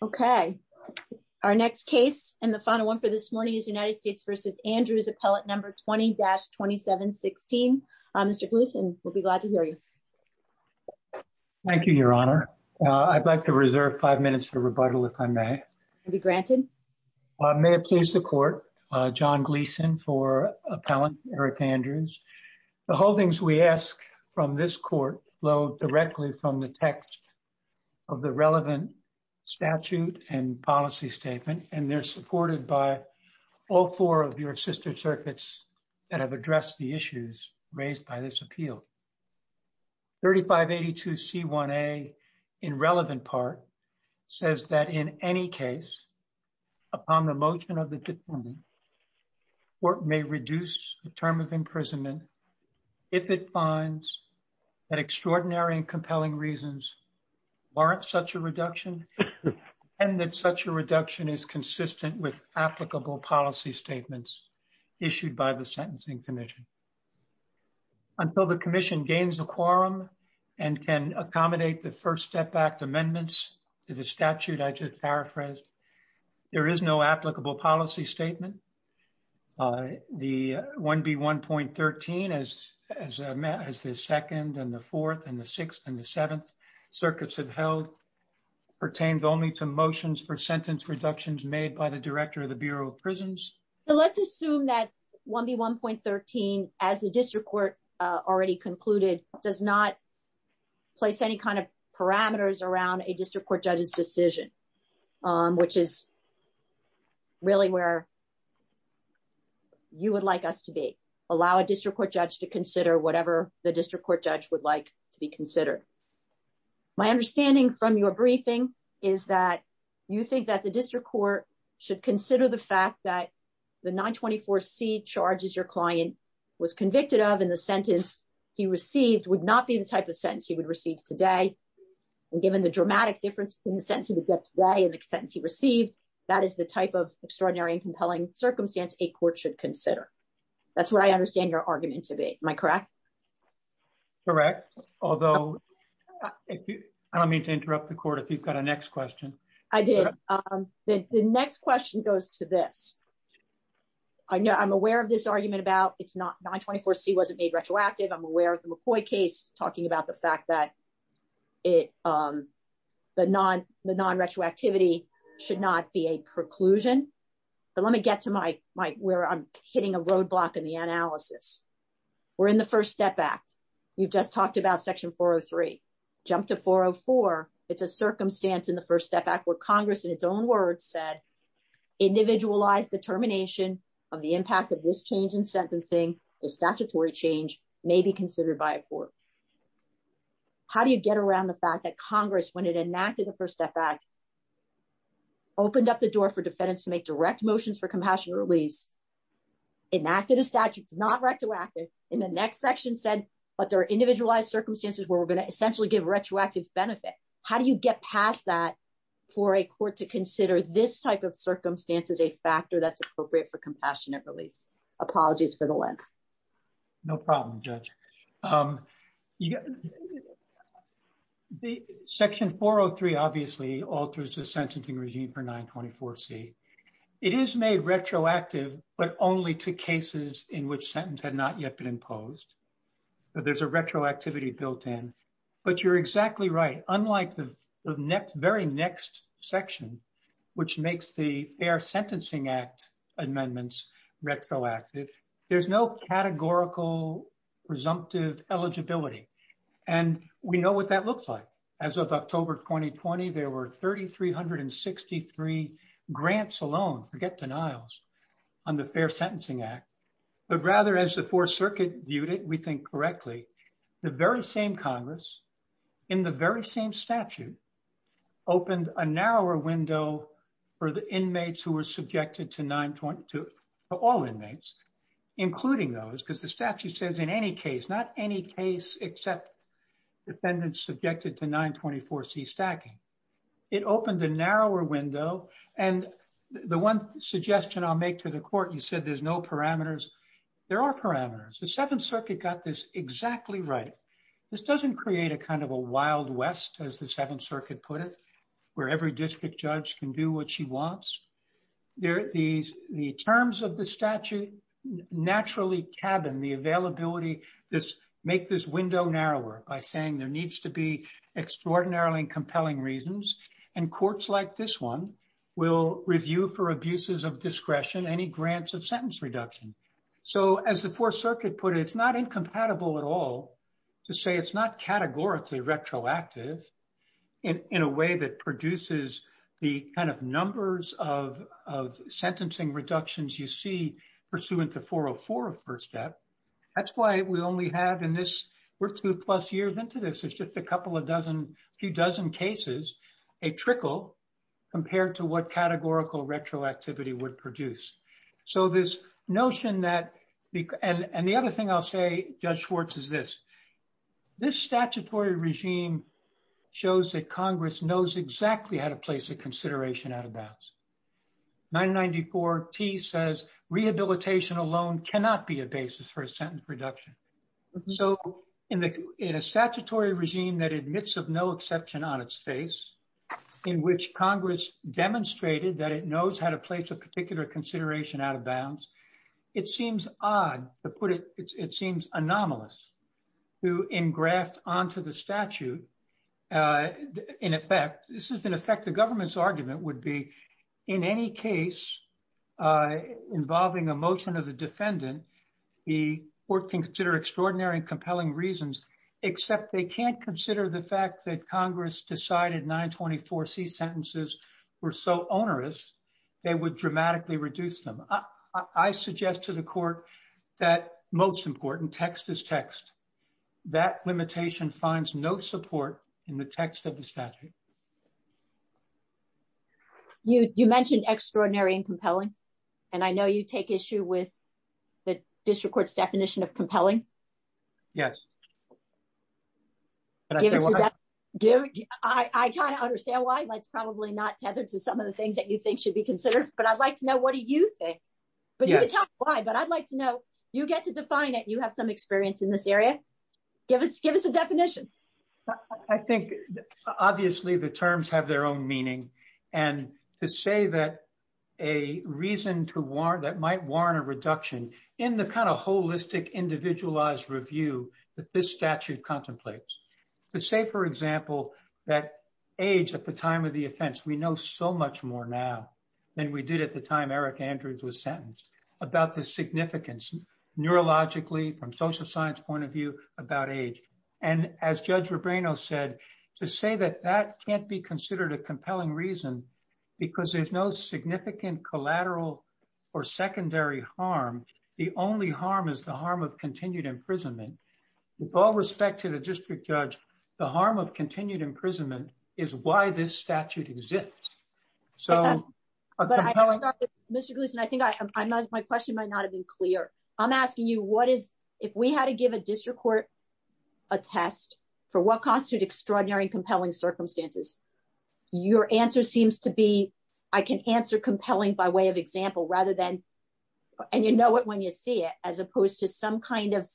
Okay. Our next case and the final one for this morning is United States v. Andrews appellate number 20-2716. Mr. Gleason, we'll be glad to hear you. Thank you, Your Honor. I'd like to reserve five minutes for rebuttal, if I may. Be granted. May it please the court. John Gleason for Appellant Eric Andrews. The holdings we ask from this court low directly from the text of the relevant statute and policy statement and they're supported by all four of your sister circuits that have addressed the issues raised by this appeal. 3582 C1a in relevant part says that in any case upon the motion of the department or may reduce the term of imprisonment. If it finds that extraordinary and compelling reasons warrant such a reduction and that such a reduction is consistent with applicable policy statements issued by the Sentencing Commission. Until the commission gains a quorum and can accommodate the first step back to amendments to the statute. I The 1B1.13 as as Matt has the second and the fourth and the sixth and the seventh circuits have held pertains only to motions for sentence reductions made by the director of the Bureau of Prisons. So let's assume that 1B1.13 as the district court already concluded does not place any kind of parameters around a district court judges decision, which is really where you would like us to be allow a district court judge to consider whatever the district court judge would like to be considered. My understanding from your briefing is that you think that the district court should consider the fact that the 924 C charges your client was convicted of in the sentence he received would not be the type of sentence he would receive today. And given the dramatic difference in the sense of the day in the sense he received that is the type of extraordinary and compelling circumstance a court should consider. That's what I understand your argument to be my crack. Correct. Although, I don't mean to interrupt the court. If you've got a next question. I did. The next question goes to this. I know I'm aware of this argument about it's not 924 C wasn't made retroactive. I'm aware of the McCoy case talking about the fact that it, the non the non retroactivity should not be a preclusion. But let me get to my my where I'm hitting a roadblock in the analysis. We're in the First Step Act. You've just talked about Section 403 jumped to 404. It's a circumstance in the First Step Act where Congress in its own words said, individualized determination of the impact of this change in sentencing or statutory change may be considered by a court. How do you get around the fact that Congress when it enacted the First Step Act, opened up the door for defendants to make direct motions for compassionate release, enacted a statute, it's not retroactive in the next section said, but there are individualized circumstances where we're going to essentially give retroactive benefit. How do you get past that, for a court to consider this type of circumstance as a factor that's appropriate for compassionate release? Apologies for the length. No problem, Judge. The Section 403 obviously alters the sentencing regime for 924 C. It is made retroactive, but only to cases in which sentence had not yet been imposed. There's a retroactivity built in, but you're exactly right. Unlike the very next section, which makes the Fair Sentencing Act amendments retroactive, there's no categorical presumptive eligibility. We know what that looks like. As of October 2020, there were 3,363 grants alone, forget denials, on the Fair Sentencing Act. But rather as the Fourth Circuit viewed it, we think correctly, the very same Congress, in the very same statute, opened a narrower window for the inmates who were subjected to all inmates, including those because the statute says in any case, not any case except defendants subjected to 924 C stacking. It opened a narrower window. And the one suggestion I'll make to the court, you said there's no parameters. There are parameters. The Seventh Circuit got this exactly right. This doesn't create a kind of a Wild West, as the Seventh Circuit put it, where every district judge can do what she wants. The terms of the statute naturally cabin the availability, make this window narrower by saying there needs to be extraordinarily compelling reasons. And courts like this one will review for abuses of discretion, any grants of sentence reduction. So as the Fourth Circuit put it, it's not incompatible at all to say it's not categorically retroactive in a way that produces the kind of numbers of sentencing reductions you see pursuant to 404 of First Step. That's why we only have in this... We're two plus years into this. It's just a couple of dozen, a few dozen cases, a trickle compared to what categorical retroactivity would produce. So this notion that... And the other thing I'll say, Judge Schwartz, is this. This statutory regime shows that Congress knows exactly how to place a consideration out of bounds. 994T says rehabilitation alone cannot be a basis for a sentence reduction. So in a statutory regime that admits of no exception on its face, in which Congress demonstrated that it knows how to place a particular consideration out of bounds, it seems odd to put it... It seems anomalous to engraft onto the statute. In effect, this is in effect the government's argument would be in any case involving a motion of the defendant, the court can consider extraordinary and compelling reasons, except they can't consider the fact that Congress decided 924C sentences were so onerous, they would dramatically reduce them. I suggest to the court that most important, text is text. That limitation finds no support in the text of the statute. You mentioned extraordinary and compelling, and I know you take issue with the district court's definition of compelling. Yes. I kind of understand why it's probably not tethered to some of the things that you think should be considered, but I'd like to know what do you think? But you can tell me why, but I'd like to know, you get to define it. You have some experience in this area. Give us a definition. I think obviously the terms have their own meaning. And to say that a reason that might warrant a reduction in the kind of holistic, individualized review that this statute contemplates. To say for example, that age at the time of the offense, we know so much more now than we did at the time Eric Andrews was sentenced about the significance neurologically, from social science point of view about age. And as Judge Rubino said, to say that that can't be considered a compelling reason, because there's no significant collateral or secondary harm. The only harm is the harm of continued imprisonment. With all respect to the district judge, the harm of continued imprisonment is why this statute exists. So- Mr. Gluskin, I think my question might not have been clear. I'm asking you, what is, if we had to give a district court a test for what constitute extraordinary and compelling circumstances? Your answer seems to be, I can answer compelling by way of example, rather than, and you know it when you see it, as opposed to some kind of,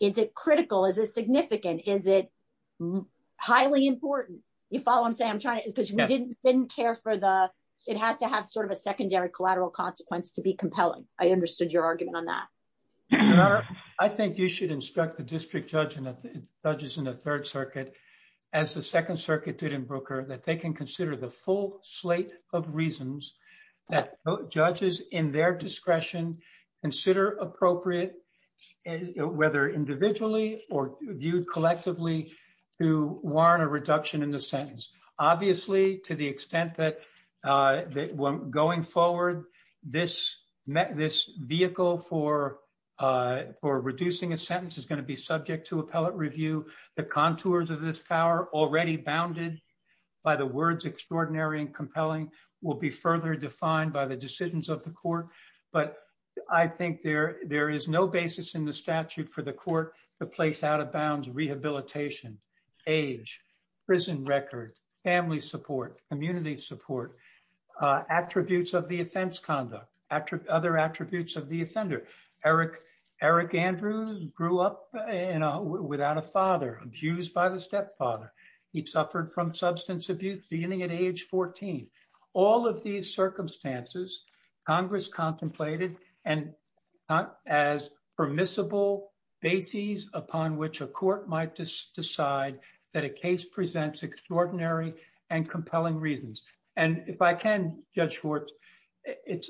is it critical? Is it significant? Is it highly important? You follow what I'm saying? I'm trying to, because we didn't care for the, it has to have sort of a secondary collateral consequence to be compelling. I understood your argument on that. Your Honor, I think you should instruct the district judge and the judges in the third circuit, as the second circuit did in Brooker, that they can consider the full slate of reasons that judges in their discretion consider appropriate, whether individually or viewed collectively, to warrant a reduction in the sentence. Obviously, to the extent that going forward, this vehicle for reducing a sentence is going to be subject to appellate review. The contours of this power already bounded by the words extraordinary and compelling will be further defined by the decisions of the court. But I think there is no basis in the place out of bounds rehabilitation, age, prison record, family support, community support, attributes of the offense conduct, other attributes of the offender. Eric Andrews grew up without a father, abused by the stepfather. He suffered from substance abuse beginning at age 14. All of these circumstances, Congress contemplated and not as permissible bases upon which a court might decide that a case presents extraordinary and compelling reasons. And if I can, Judge Schwartz,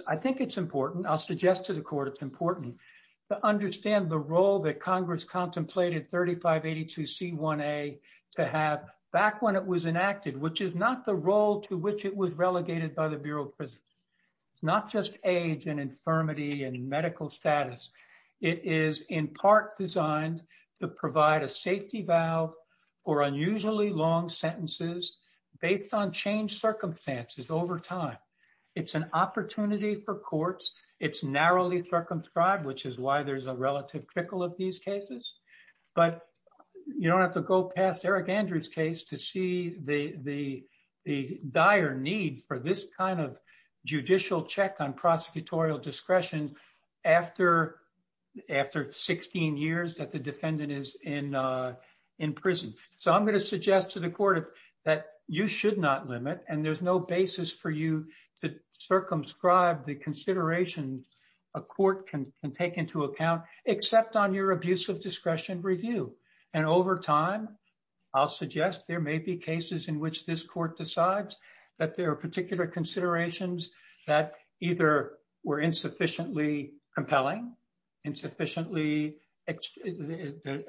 I think it's important, I'll suggest to the court, it's important to understand the role that Congress contemplated 3582C1A to have back when it was enacted, which is not the role to which it was relegated by the Bureau of Prisons. It's not just age and infirmity and medical status. It is in part designed to provide a safety valve or unusually long sentences based on changed circumstances over time. It's an opportunity for courts. It's narrowly circumscribed, which is why there's a relative trickle of these cases. But you don't have to go past Eric Andrews case to see the dire need for this kind of judicial check on prosecutorial discretion after 16 years that the defendant is in prison. So I'm going to suggest to the court that you should not limit and there's no basis for you to circumscribe the review. And over time, I'll suggest there may be cases in which this court decides that there are particular considerations that either were insufficiently compelling, insufficiently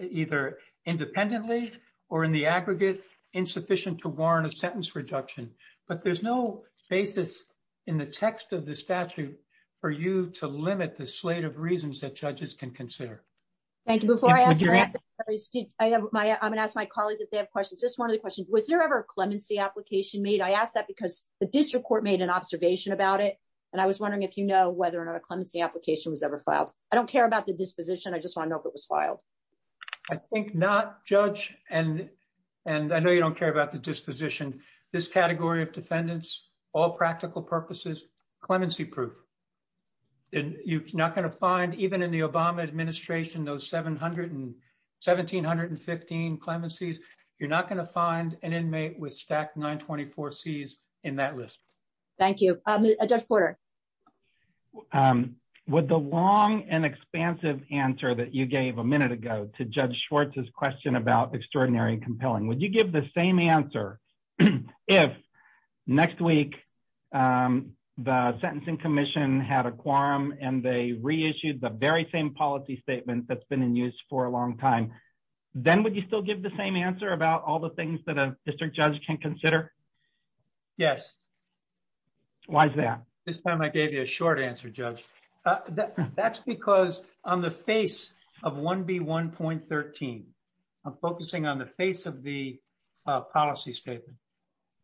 either independently or in the aggregate insufficient to warrant a sentence reduction. But there's no basis in the text of the statute for you to limit the slate of reasons that judges can consider. Thank you. Before I ask my colleagues if they have questions, just one of the questions. Was there ever a clemency application made? I asked that because the district court made an observation about it. And I was wondering if you know whether or not a clemency application was ever filed. I don't care about the disposition. I just want to know if it was filed. I think not judge. And and I know you don't care about the disposition. This category of defendants, all practical purposes, clemency proof. And you're not going to find even in the Obama administration, those seven hundred and seventeen hundred and fifteen clemencies. You're not going to find an inmate with stacked nine twenty four C's in that list. Thank you, Judge Porter. With the long and expansive answer that you gave a minute ago to Judge Schwartz's question about extraordinary compelling, would you give the same answer if next week the sentencing commission had a quorum and they reissued the very same policy statement that's been in use for a long time? Then would you still give the same answer about all the things that a district judge can consider? Yes. Why is that? This time I gave you a short answer, Judge. That's because on the face of one point thirteen, I'm focusing on the face of the policy statement.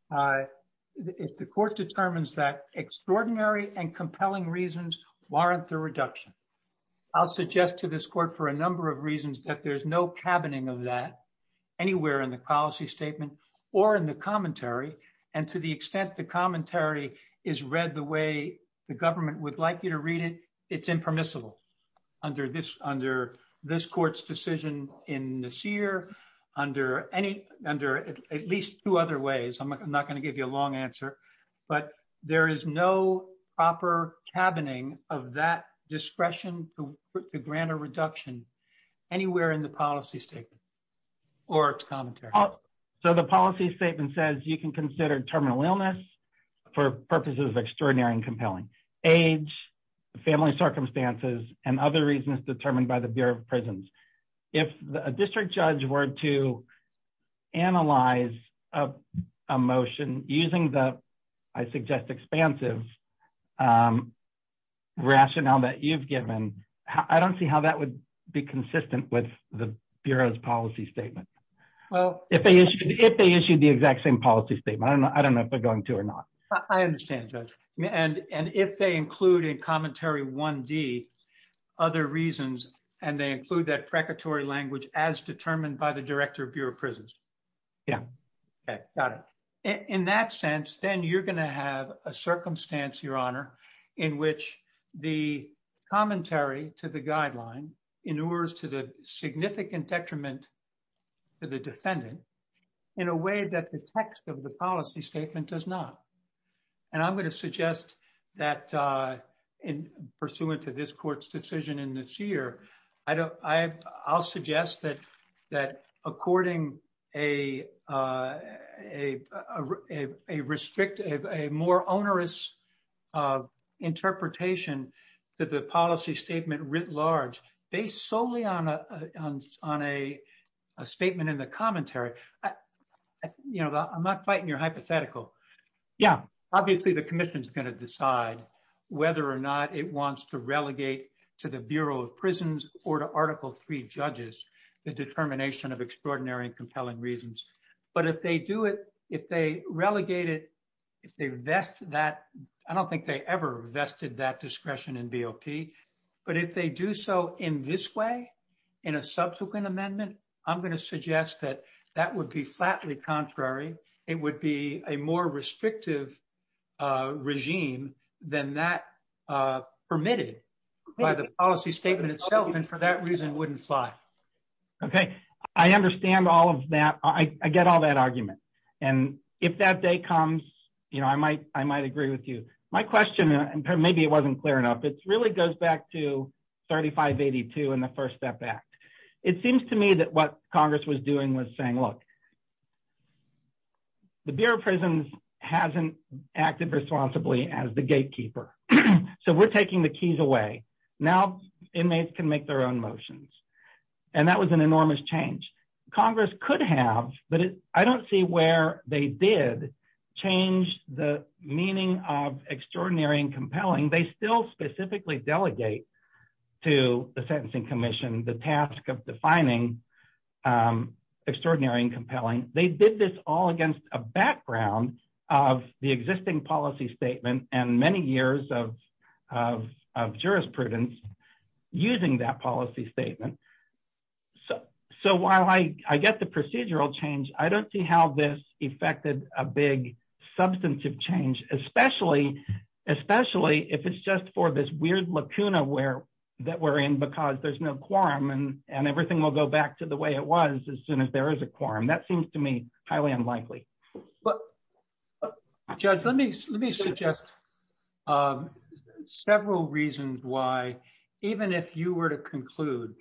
The court determines that extraordinary and compelling reasons warrant the reduction. I'll suggest to this court for a number of reasons that there's no cabining of that anywhere in the policy statement or in the commentary. And to the extent the commentary is read the way the government would like you to read it, it's impermissible under this under this two other ways. I'm not going to give you a long answer, but there is no proper cabining of that discretion to grant a reduction anywhere in the policy statement or commentary. So the policy statement says you can consider terminal illness for purposes of extraordinary and compelling age, family circumstances and other reasons determined by the Bureau of Prisons. If a district judge were to analyze a motion using the, I suggest, expansive rationale that you've given, I don't see how that would be consistent with the Bureau's policy statement. Well, if they issued if they issued the exact same policy statement, I don't know if they're going to or not. I understand that. And if they include in commentary one D other reasons and they include that precatory language as determined by the director of Bureau of Prisons. Yeah. Okay. Got it. In that sense, then you're going to have a circumstance, Your Honor, in which the commentary to the guideline inures to the significant detriment to the defendant in a way that the text of the policy statement does not. And I'm going to suggest that in pursuant to this court's decision in this year, I'll suggest that according a more onerous interpretation that the policy statement writ large, based solely on a statement in the commentary, you know, I'm not fighting your hypothetical. Yeah. Obviously, the commission's whether or not it wants to relegate to the Bureau of Prisons or to Article III judges, the determination of extraordinary and compelling reasons. But if they do it, if they relegate it, if they vest that, I don't think they ever vested that discretion in BOP. But if they do so in this way, in a subsequent amendment, I'm going to suggest that that would be flatly contrary. It would be a more restrictive regime than that permitted by the policy statement itself, and for that reason, wouldn't fly. Okay. I understand all of that. I get all that argument. And if that day comes, you know, I might agree with you. My question, and maybe it wasn't clear enough, it really goes back to 3582 and the First Step Act. It seems to me that what Congress was doing was saying, look, the Bureau of Prisons hasn't acted responsibly as the gatekeeper. So we're taking the keys away. Now, inmates can make their own motions. And that was an enormous change. Congress could have, but I don't see where they did change the meaning of extraordinary and compelling. They still specifically delegate to the Sentencing Commission, the task of defining extraordinary and compelling. They did this all against a background of the existing policy statement and many years of jurisprudence using that policy statement. So while I get the procedural change, I don't see how this affected a big substantive change, especially if it's just for this weird lacuna that we're in because there's no quorum and everything will go back the way it was as soon as there is a quorum. That seems to me highly unlikely. But Judge, let me suggest several reasons why, even if you were to conclude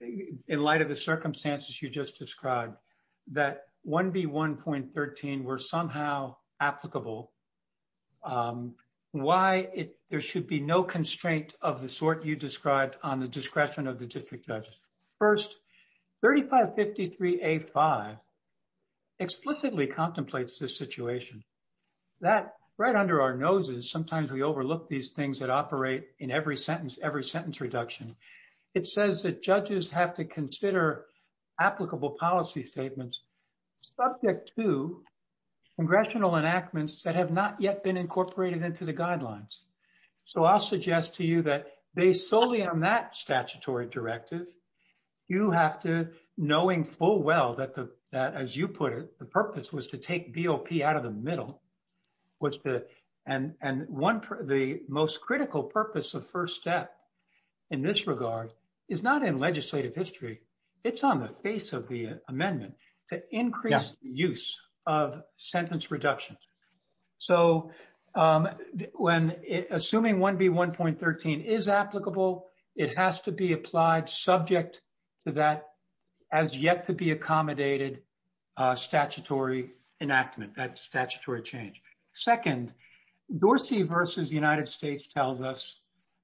in light of the circumstances you just described, that 1B1.13 were somehow applicable, why there should be no constraint of the sort you described on the discretion of the district judge. First, 3553A5 explicitly contemplates this situation. That right under our noses, sometimes we overlook these things that operate in every sentence reduction. It says that judges have to consider applicable policy statements subject to congressional enactments that have not yet been incorporated into the guidelines. So I'll suggest to you that based solely on that you have to, knowing full well that, as you put it, the purpose was to take BOP out of the middle. And the most critical purpose of first step in this regard is not in legislative history, it's on the face of the amendment to increase the use of sentence reduction. So when assuming 1B1.13 is applicable, it has to be applied subject to that as yet to be accommodated statutory enactment, that statutory change. Second, Dorsey v. United States tells us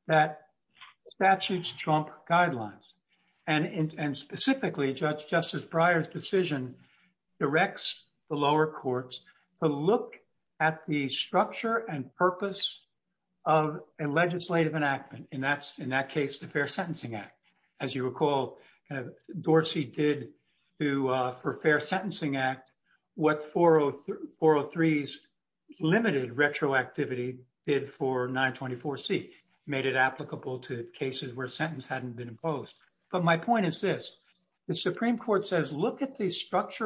that statutes trump guidelines. And specifically, Justice Breyer's decision directs the lower courts to look at the structure and purpose of a legislative enactment. And that's in that case, the Fair Sentencing Act. As you recall, Dorsey did for Fair Sentencing Act, what 403's limited retroactivity did for 924C, made it applicable to cases where structure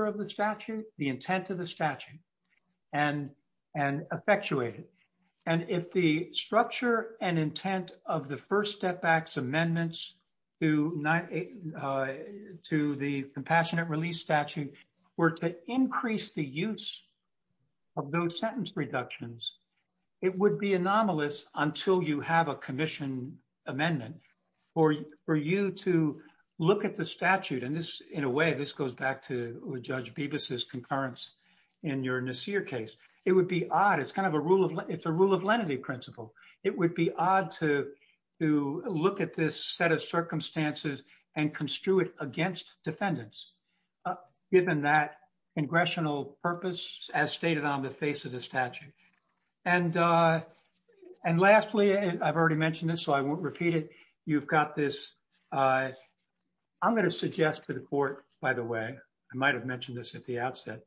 of the statute, the intent of the statute, and effectuated. And if the structure and intent of the First Step Act's amendments to the Compassionate Release Statute were to increase the use of those sentence reductions, it would be anomalous until you have a commission amendment for you to look at the statute. And in a way, this goes back to Judge Bibas's concurrence in your Nasir case. It would be odd. It's a rule of lenity principle. It would be odd to look at this set of circumstances and construe it against defendants, given that congressional purpose as stated on the face of the statute. And lastly, I've already mentioned this, I won't repeat it. You've got this... I'm going to suggest to the court, by the way, I might have mentioned this at the outset.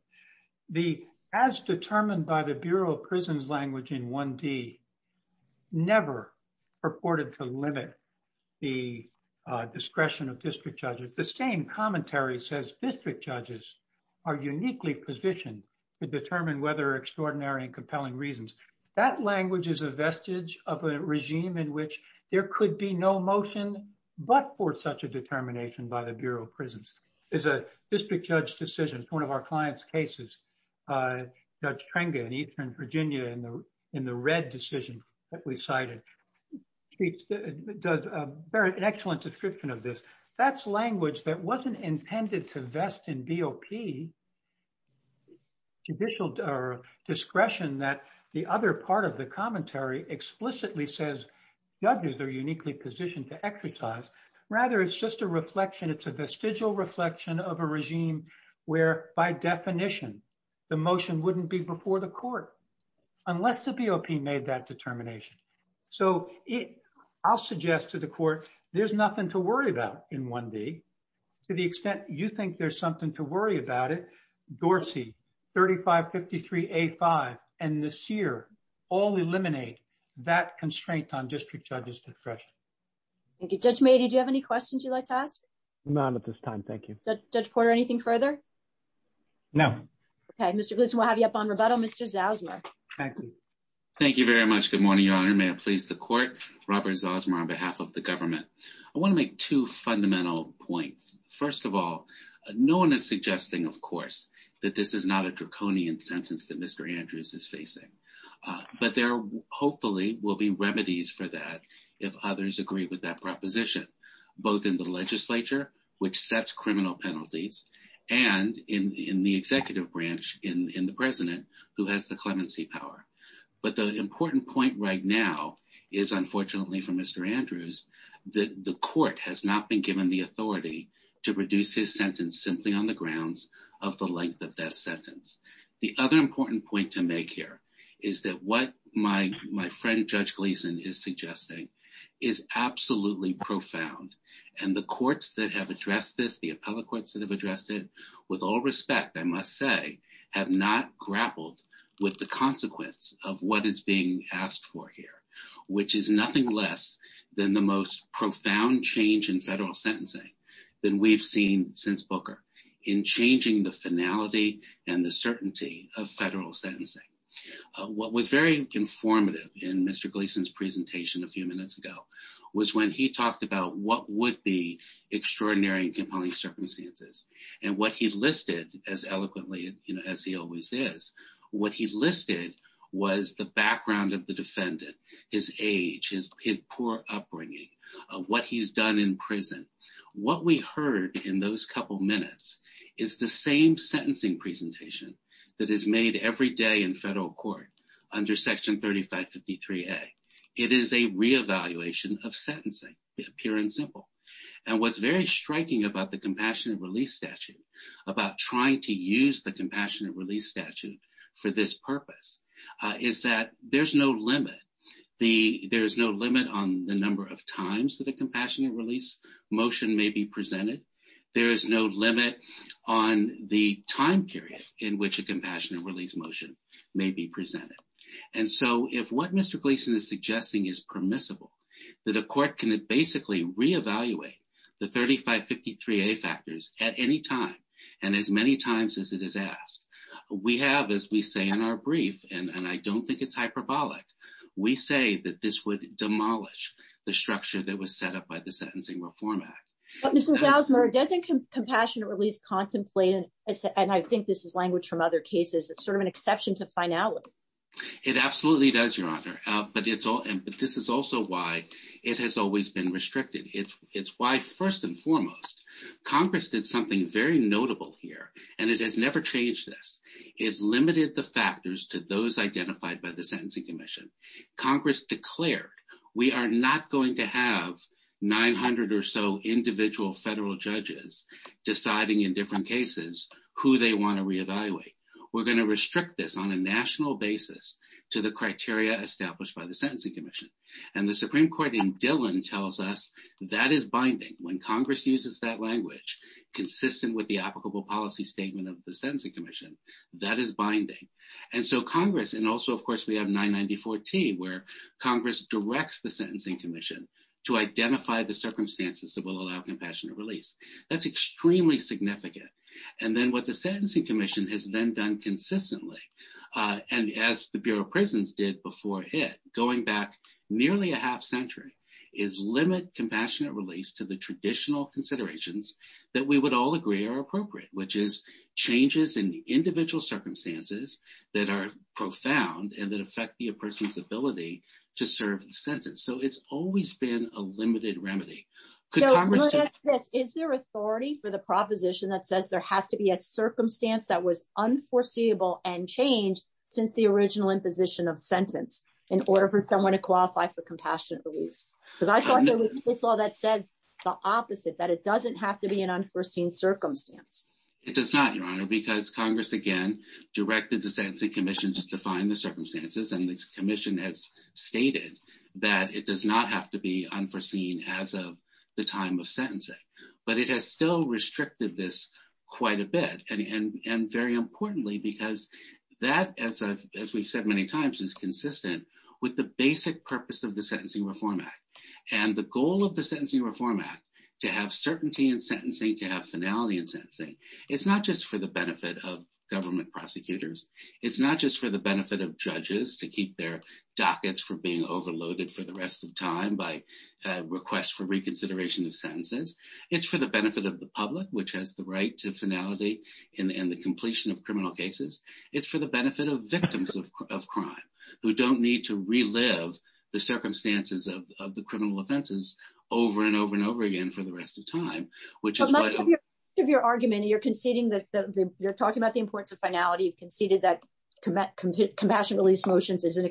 As determined by the Bureau of Prisons language in 1D, never purported to limit the discretion of district judges. The same commentary says district judges are uniquely positioned to determine whether extraordinary and compelling reasons. That language is a vestige of a regime in which there could be no motion, but for such a determination by the Bureau of Prisons. There's a district judge decision, one of our client's cases, Judge Trenga in Eastern Virginia in the red decision that we cited, does an excellent description of this. That's language that wasn't intended to vest in BOP judicial discretion that the other part of the commentary explicitly says judges are uniquely positioned to exercise. Rather, it's just a reflection, it's a vestigial reflection of a regime where by definition, the motion wouldn't be before the court, unless the BOP made that determination. So I'll suggest to the court, there's nothing to worry about in 1D, to the extent you think there's to worry about it, Dorsey, 3553A5, and Nasir, all eliminate that constraint on district judges. Thank you, Judge Meady, do you have any questions you'd like to ask? None at this time, thank you. Judge Porter, anything further? No. Okay, Mr. Gleeson, we'll have you up on rebuttal. Mr. Zosmer. Thank you. Thank you very much. Good morning, Your Honor. May it please the court, Robert Zosmer on behalf of the government. I want to make two fundamental points. First of all, no one is suggesting, of course, that this is not a draconian sentence that Mr. Andrews is facing. But there hopefully will be remedies for that if others agree with that proposition, both in the legislature, which sets criminal penalties, and in the executive branch in the president who has the clemency power. But the important point right now is unfortunately for on the grounds of the length of that sentence. The other important point to make here is that what my friend Judge Gleeson is suggesting is absolutely profound. And the courts that have addressed this, the appellate courts that have addressed it, with all respect, I must say, have not grappled with the consequence of what is being asked for here, which is nothing less than the most profound change in federal sentencing that we've seen since Booker in changing the finality and the certainty of federal sentencing. What was very informative in Mr. Gleeson's presentation a few minutes ago was when he talked about what would be extraordinary and compelling circumstances. And what he listed, as eloquently as he always is, what he listed was the background of the defendant, his age, his poor upbringing, what he's done in prison. What we heard in those couple minutes is the same sentencing presentation that is made every day in federal court under Section 3553A. It is a reevaluation of sentencing, pure and simple. And what's very striking about the Compassionate Release Statute, about trying to use the is that there's no limit. There is no limit on the number of times that a Compassionate Release motion may be presented. There is no limit on the time period in which a Compassionate Release motion may be presented. And so, if what Mr. Gleeson is suggesting is permissible, that a court can basically reevaluate the 3553A factors at any time and as many times as it is and I don't think it's hyperbolic, we say that this would demolish the structure that was set up by the Sentencing Reform Act. But Mr. Gousmer, doesn't Compassionate Release contemplate, and I think this is language from other cases, it's sort of an exception to finality. It absolutely does, Your Honor. But this is also why it has always been restricted. It's why, first and foremost, Congress did something very notable here, and it has never changed this. It limited the factors to those identified by the Sentencing Commission. Congress declared, we are not going to have 900 or so individual federal judges deciding in different cases who they want to reevaluate. We're going to restrict this on a national basis to the criteria established by the Sentencing Commission. And the Supreme Court in Dillon tells us that is binding. When Congress uses that language, consistent with the applicable policy statement of the Supreme Court, that is binding. And so Congress, and also, of course, we have 994-T, where Congress directs the Sentencing Commission to identify the circumstances that will allow Compassionate Release. That's extremely significant. And then what the Sentencing Commission has then done consistently, and as the Bureau of Prisons did before it, going back nearly a half century, is limit Compassionate Release to the traditional considerations that we would all agree are appropriate, which is changes in the individual circumstances that are profound and that affect a person's ability to serve the sentence. So it's always been a limited remedy. Is there authority for the proposition that says there has to be a circumstance that was unforeseeable and changed since the original imposition of sentence in order for someone to qualify for Compassionate Release? Because I thought there was a law that says the opposite, that it doesn't have to be an unforeseen circumstance. It does not, Your Honor, because Congress, again, directed the Sentencing Commission to define the circumstances. And the Commission has stated that it does not have to be unforeseen as of the time of sentencing. But it has still restricted this quite a bit. And very importantly, because that, as we've said many times, is consistent with the basic purpose of the Sentencing Reform Act. And the goal of the Sentencing Reform Act, to have certainty in sentencing, to have finality in sentencing, it's not just for the benefit of government prosecutors. It's not just for the benefit of judges to keep their dockets from being overloaded for the rest of time by requests for reconsideration of sentences. It's for the benefit of the public, which has the right to finality in the completion of criminal cases. It's for the benefit of victims of crime who don't need to relive the circumstances of the criminal offenses over and over and over again for the rest of time, which is why- But much of your argument, you're conceding that, you're talking about the importance of finality, you've conceded that compassionate release motions is an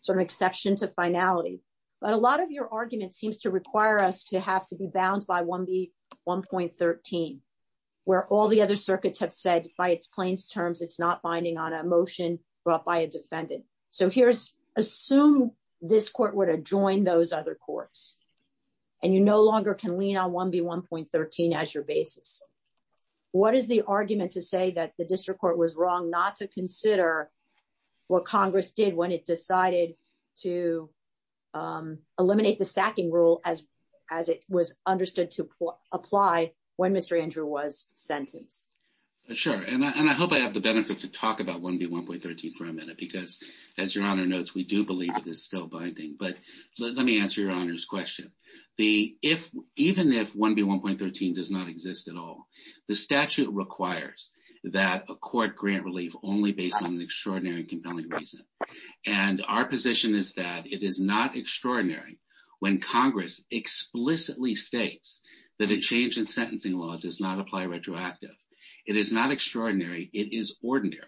sort of exception to finality. But a lot of your argument seems to require us to have to be bound by 1B1.13, where all the other circuits have said, by its plainsterms, it's not binding on a motion brought by a defendant. So here's- Assume this court were to join those other courts, and you no longer can lean on 1B1.13 as your basis. What is the argument to say that the district court was wrong not to consider what Congress did when it decided to eliminate the stacking rule as it was understood to apply when Mr. Andrew was sentenced? Sure. And I hope I have the benefit to talk about 1B1.13 for a minute because, as Your Honor notes, we do believe it is still binding. But let me answer Your Honor's question. Even if 1B1.13 does not exist at all, the statute requires that a court grant relief only based on an extraordinary and compelling reason. And our position is that it is not extraordinary when Congress explicitly states that a change in sentencing law does not apply retroactive. It is not extraordinary. It is ordinary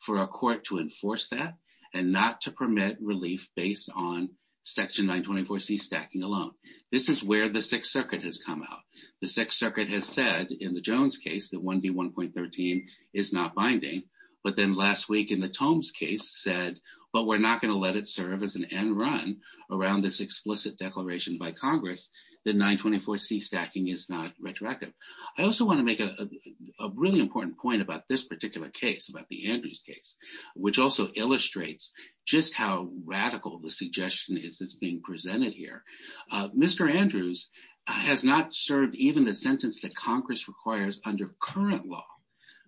for a court to enforce that and not to permit relief based on Section 924C stacking alone. This is where the Sixth Circuit has come out. The Sixth Circuit has said in the Jones case that 1B1.13 is not binding. But then last week in the Tomes case said, but we are not going to let it serve as an end run around this explicit declaration by Congress that 924C stacking is not retroactive. I also want to make a really important point about this particular case, about the Andrews case, which also illustrates just how radical the suggestion is that is being presented here. Mr. Andrews has not served even the sentence Congress requires under current law.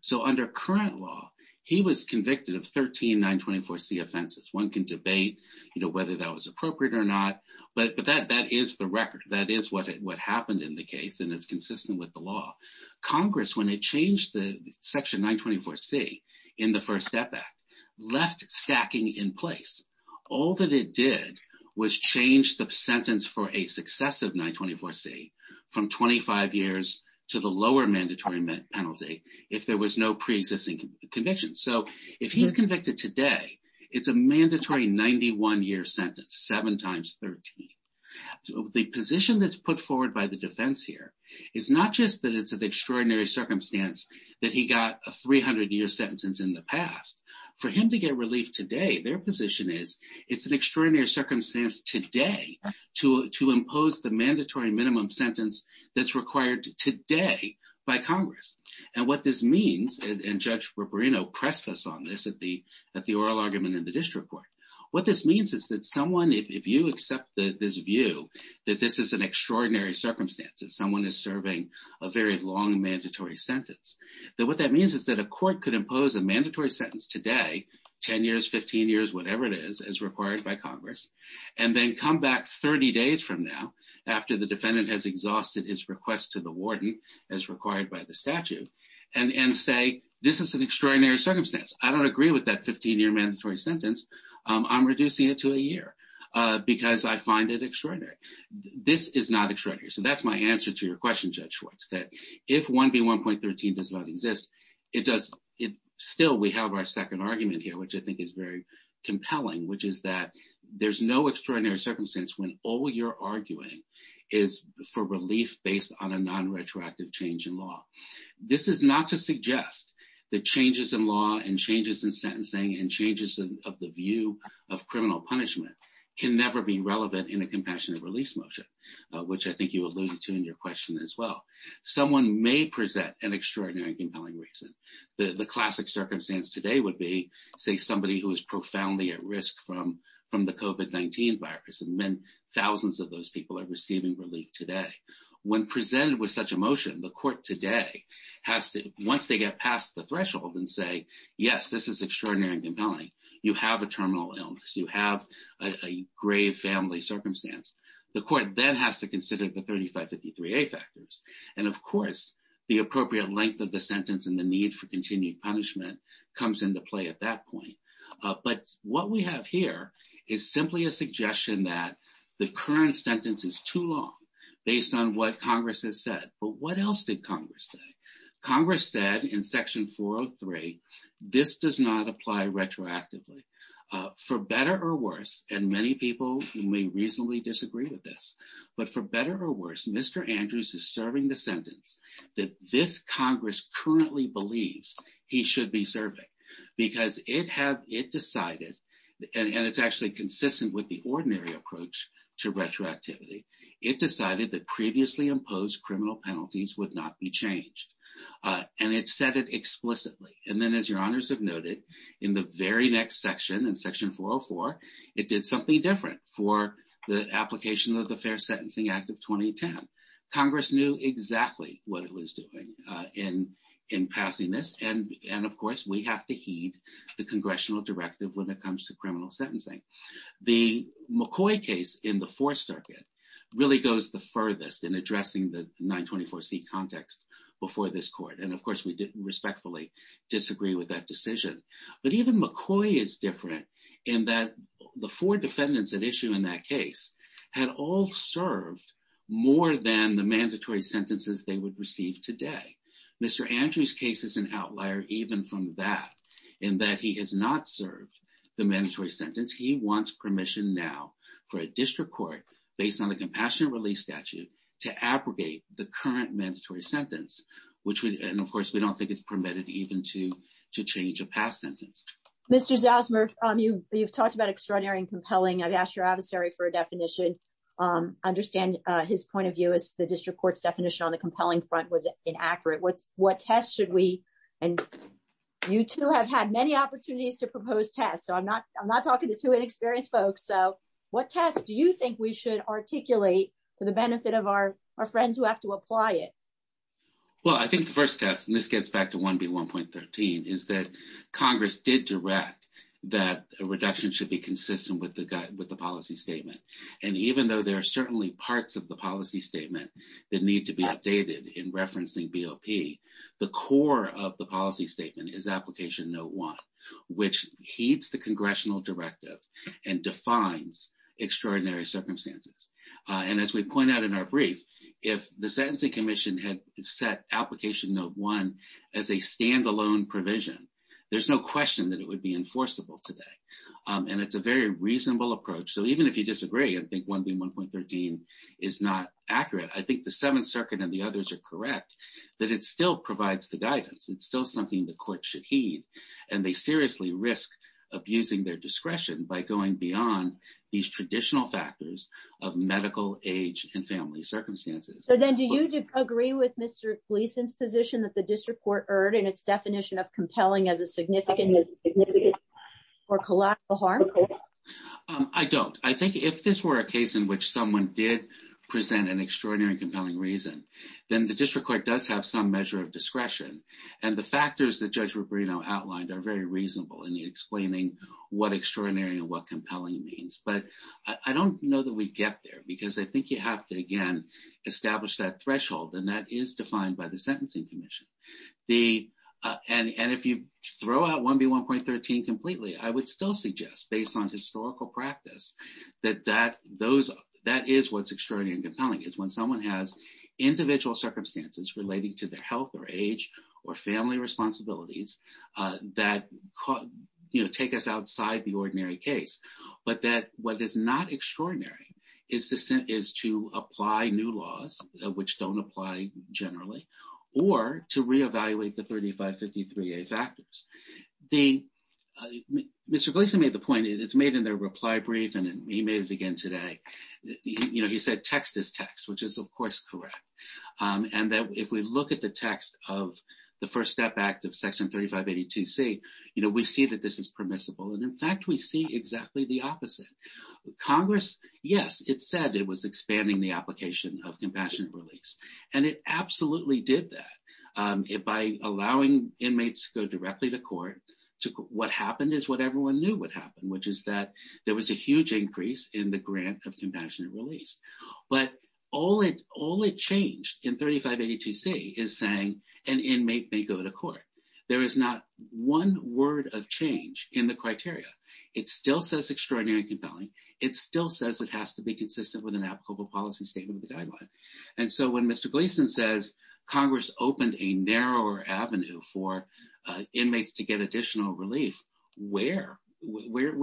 So under current law, he was convicted of 13 924C offenses. One can debate whether that was appropriate or not. But that is the record. That is what happened in the case. And it is consistent with the law. Congress, when it changed the Section 924C in the First Step Act, left stacking in place. All that it did was change the sentence for a successive 924C from 25 years to the lower mandatory penalty if there was no pre-existing conviction. So if he is convicted today, it is a mandatory 91-year sentence, 7 times 13. The position that is put forward by the defense here is not just that it is an extraordinary circumstance that he got a 300-year sentence in the past. For him to get relief today, their position is it is an extraordinary circumstance today to impose the mandatory minimum sentence that is required today by Congress. And what this means, and Judge Rubarino pressed us on this at the oral argument in the district court, what this means is that someone, if you accept this view that this is an extraordinary circumstance, that someone is serving a very long mandatory sentence, that what that means is that a court could impose a mandatory sentence today, 10 years, 15 years, whatever it is, as required by Congress, and then come back 30 days from now after the defendant has exhausted his request to the warden as required by the statute, and say, this is an extraordinary circumstance. I don't agree with that 15-year mandatory sentence. I'm reducing it to a year because I find it extraordinary. This is not extraordinary. So that's my answer to your question, Judge Schwartz, that if 1B1.13 does not exist, it does still, we have our second argument here, which I think is very compelling, which is that there's no extraordinary circumstance when all you're arguing is for relief based on a non-retroactive change in law. This is not to suggest that changes in law and changes in sentencing and changes of the view of criminal punishment can never be relevant in a compassionate release motion, which I think you alluded to in your question as well. Someone may present an extraordinary and the classic circumstance today would be, say, somebody who is profoundly at risk from the COVID-19 virus, and then thousands of those people are receiving relief today. When presented with such a motion, the court today has to, once they get past the threshold and say, yes, this is extraordinary and compelling, you have a terminal illness, you have a grave family circumstance, the court then has to consider the 3553A factors. And of course, the appropriate length of the need for continued punishment comes into play at that point. But what we have here is simply a suggestion that the current sentence is too long based on what Congress has said. But what else did Congress say? Congress said in Section 403, this does not apply retroactively. For better or worse, and many people may reasonably disagree with this, but for better or worse, Mr. Andrews is serving the sentence that this Congress currently believes he should be serving, because it decided, and it's actually consistent with the ordinary approach to retroactivity, it decided that previously imposed criminal penalties would not be changed. And it said it explicitly. And then as your honors have noted, in the very next section, in Section 404, it did something different for the application of the Fair Sentencing Act of 2010. Congress knew exactly what it was doing in passing this. And of course, we have to heed the congressional directive when it comes to criminal sentencing. The McCoy case in the Fourth Circuit really goes the furthest in addressing the 924C context before this court. And of course, we respectfully disagree with that decision. But even McCoy is different in that the four defendants at issue in that case had all served more than the mandatory sentences they would receive today. Mr. Andrews' case is an outlier even from that, in that he has not served the mandatory sentence. He wants permission now for a district court, based on the compassionate release statute, to abrogate the current mandatory sentence. And of course, we don't think it's permitted even to change a past sentence. Mr. Zosmer, you've talked about extraordinary and compelling. I've asked your adversary for a definition. I understand his point of view is the district court's definition on the compelling front was inaccurate. What test should we, and you two have had many opportunities to propose tests. So I'm not talking to two inexperienced folks. So what test do you think we should articulate for the benefit of our friends who have to apply it? Well, I think the first test, and this gets back to 1B1.13, is that Congress did direct that a reduction should be consistent with the policy statement. And even though there are certainly parts of the policy statement that need to be updated in referencing BOP, the core of the policy statement is application note one, which heeds the congressional directive and defines extraordinary circumstances. And as we point out in our brief, if the Sentencing Commission had set application note one as a standalone provision, there's no question that it would be enforceable today. And it's a very reasonable approach. So even if you disagree, I think 1B1.13 is not accurate. I think the Seventh Circuit and the others are correct that it still provides the guidance. It's still something the court should heed. And they seriously risk abusing their discretion by going beyond these traditional factors of medical age and family circumstances. So then do you agree with Mr. Gleason's position that the district court erred in its definition of compelling as a significant or collateral harm? I don't. I think if this were a case in which someone did present an extraordinary and compelling reason, then the district court does have some measure of discretion. And the factors that Judge outlined are very reasonable in explaining what extraordinary and what compelling means. But I don't know that we get there, because I think you have to, again, establish that threshold. And that is defined by the Sentencing Commission. And if you throw out 1B1.13 completely, I would still suggest, based on historical practice, that that is what's extraordinary and compelling. It's when someone has individual circumstances relating to their health or age or family responsibilities that take us outside the ordinary case. But that what is not extraordinary is to apply new laws, which don't apply generally, or to reevaluate the 3553A factors. Mr. Gleason made the point, and it's made in their reply brief, and he made it again today. He said, text is text, which is, of course, correct. And that if we look at the text of the First Step Act of Section 3582C, we see that this is permissible. And in fact, we see exactly the opposite. Congress, yes, it said it was expanding the application of compassionate release. And it absolutely did that. By allowing inmates to go directly to court, what happened is what everyone knew would happen, which is that there was a huge increase in the grant of compassionate release. But all it changed in 3582C is saying an inmate may go to court. There is not one word of change in the criteria. It still says extraordinary and compelling. It still says it has to be consistent with an applicable policy statement of the guideline. And so when Mr. Gleason says Congress opened a narrower avenue for inmates to get additional relief, where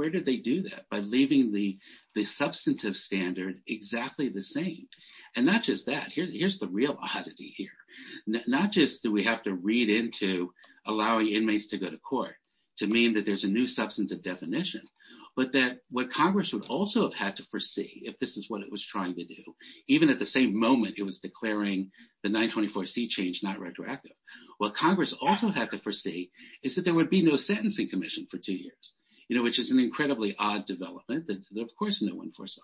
did they do that? By leaving the substantive standard exactly the same. And not just that. Here's the real oddity here. Not just do we have to read into allowing inmates to go to court to mean that there's a new substantive definition, but that what Congress would also have had to foresee if this is what it was trying to do, even at the same moment it was declaring the 924C change not retroactive, what Congress also had to for two years, which is an incredibly odd development that of course no one foresaw.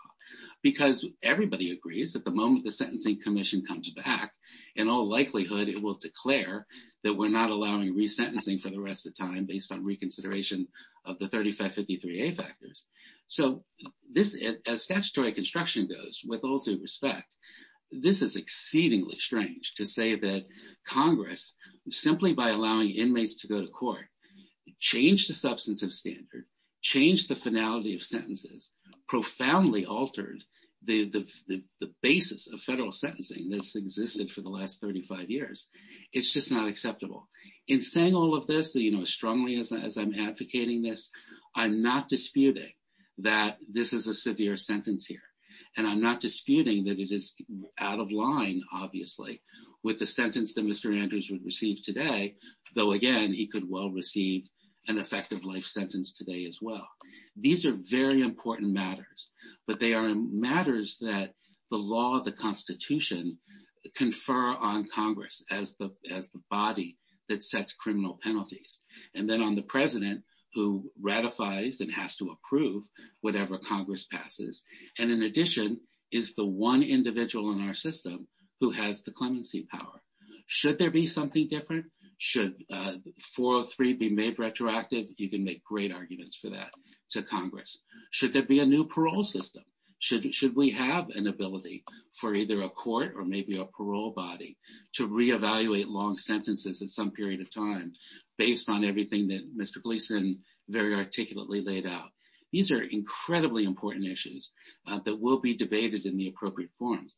Because everybody agrees that the moment the Sentencing Commission comes back, in all likelihood it will declare that we're not allowing resentencing for the rest of the time based on reconsideration of the 3553A factors. So as statutory construction goes, with all due respect, this is exceedingly strange to say that Congress, simply by allowing inmates to go to the substantive standard, change the finality of sentences, profoundly altered the basis of federal sentencing that's existed for the last 35 years. It's just not acceptable. In saying all of this, as strongly as I'm advocating this, I'm not disputing that this is a severe sentence here. And I'm not disputing that it is out of line, obviously, with the effective life sentence today as well. These are very important matters. But they are matters that the law, the Constitution, confer on Congress as the body that sets criminal penalties. And then on the president, who ratifies and has to approve whatever Congress passes. And in addition, is the one individual in our system who has the clemency power. Should there be something different? Should 403 be made retroactive? You can make great arguments for that to Congress. Should there be a new parole system? Should we have an ability for either a court or maybe a parole body to reevaluate long sentences at some period of time based on everything that Mr. Gleason very articulately laid out? These are incredibly important issues that will be debated in the appropriate forums.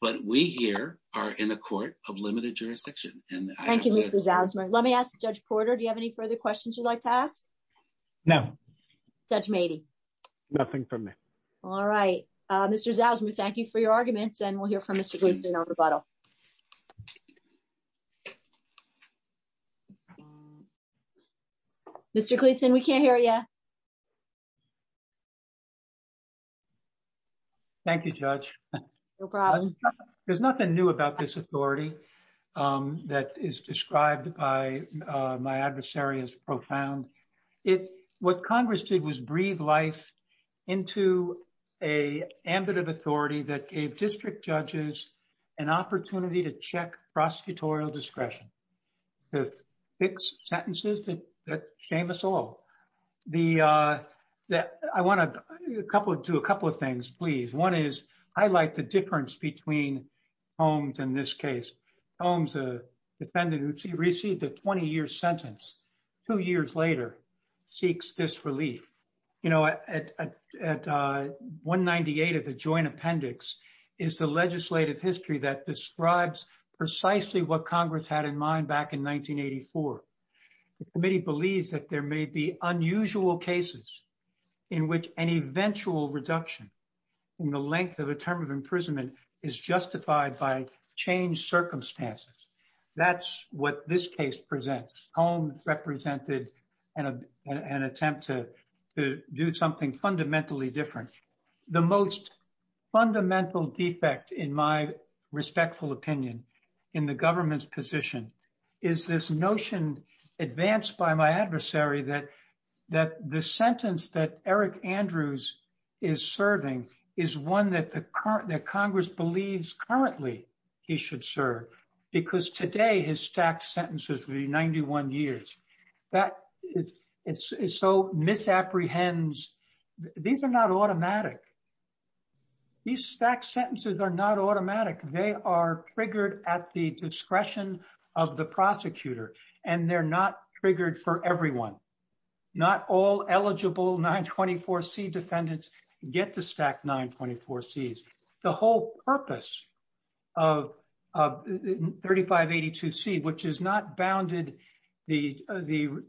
But we here are in a court of limited jurisdiction. Thank you, Mr. Zasmer. Let me ask Judge Porter, do you have any further questions you'd like to ask? No. Judge Mady? Nothing from me. All right. Mr. Zasmer, thank you for your arguments. And we'll hear from Mr. Gleason on rebuttal. Mr. Gleason, we can't hear you. Thank you, Judge. No problem. There's nothing new about this authority that is described by my adversary as profound. What Congress did was breathe life into an ambit of authority that gave district judges an opportunity to check prosecutorial discretion to fix sentences that shame us all. I want to do a couple of things, please. One is highlight the difference between Holmes in this case. Holmes, a defendant who received a 20-year sentence two years later, seeks this relief. At 198 of the joint appendix is the legislative history that describes precisely what Congress had in mind back in 1984. The committee believes that there may be unusual cases in which an eventual reduction in the length of a term of imprisonment is justified by changed circumstances. That's what this case presents. Holmes represented an attempt to do something fundamentally different. The most fundamental defect, in my respectful opinion, in the government's position is this notion advanced by my adversary that the sentence that Eric Andrews is serving is one that Congress believes currently he should serve, because today his stacked sentences would be 91 years. That is so misapprehensive. These are not automatic. These stacked sentences are not automatic. They are triggered at the discretion of the prosecutor, and they're not triggered for everyone. Not all eligible 924C defendants get the stacked 924Cs. The whole purpose of 3582C, which is not bounded, the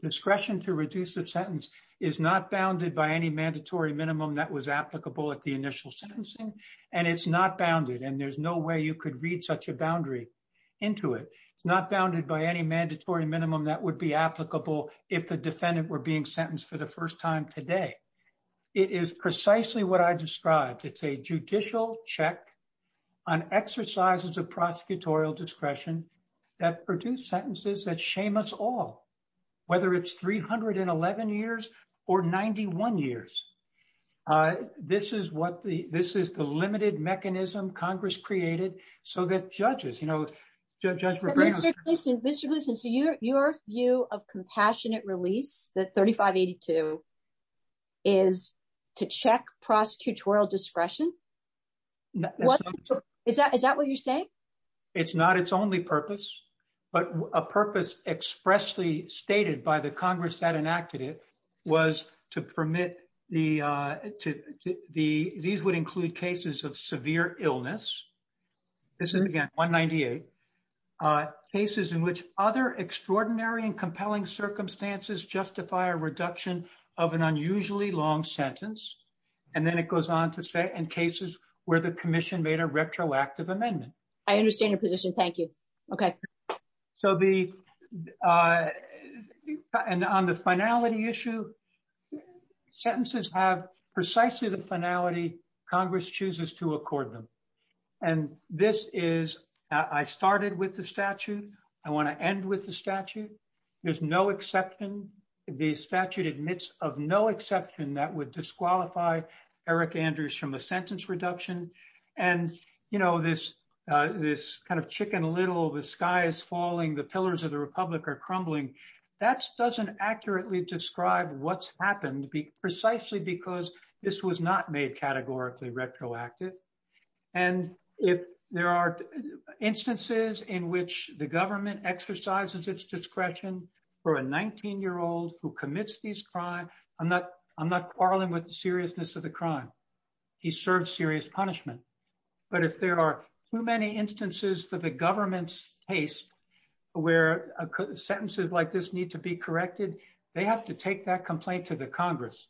discretion to reduce the sentence, is not bounded by any mandatory minimum that was applicable at the initial sentencing, and it's not bounded, and there's no way you could read such a boundary into it. It's not bounded by any mandatory minimum that would be applicable if the defendant were being sentenced for the check on exercises of prosecutorial discretion that produce sentences that shame us all, whether it's 311 years or 91 years. This is the limited mechanism Congress created. Mr. Gleeson, so your view of compassionate release, that 3582C is to check prosecutorial discretion? Is that what you're saying? It's not its only purpose, but a purpose expressly stated by the Congress that enacted it was to permit the... These would include cases of severe illness. This is, again, 198. Cases in which other extraordinary and compelling circumstances justify a reduction of an unusually long sentence, and then it goes on to say in cases where the commission made a retroactive amendment. I understand your position. Thank you. Okay. So the... And on the finality issue, sentences have precisely the finality Congress chooses to accord them. And this is... I started with the statute. I want to end with the statute. There's no exception. The statute admits of no exception that would disqualify Eric Andrews from a sentence reduction. And this kind of chicken little, the sky is falling, the pillars of the republic are crumbling. That doesn't accurately describe what's happened precisely because this was not made categorically retroactive. And if there are instances in which the government exercises its discretion for a 19-year-old who commits these crimes... I'm not quarreling with the seriousness of the crime. He served serious punishment. But if there are too many instances for the government's taste where sentences like this need to be corrected, they have to take that complaint to the Congress.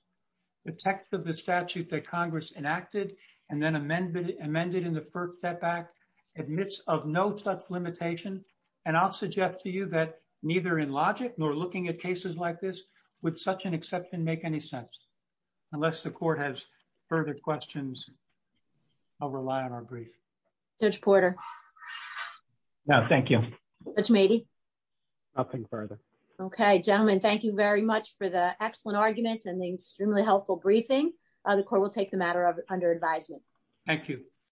The text of the statute that Congress enacted and then amended in the limitation. And I'll suggest to you that neither in logic nor looking at cases like this would such an exception make any sense. Unless the court has further questions, I'll rely on our brief. Judge Porter. No, thank you. Judge Mady. Nothing further. Okay. Gentlemen, thank you very much for the excellent arguments and the extremely helpful briefing. The court will take the matter under advisement. Thank you.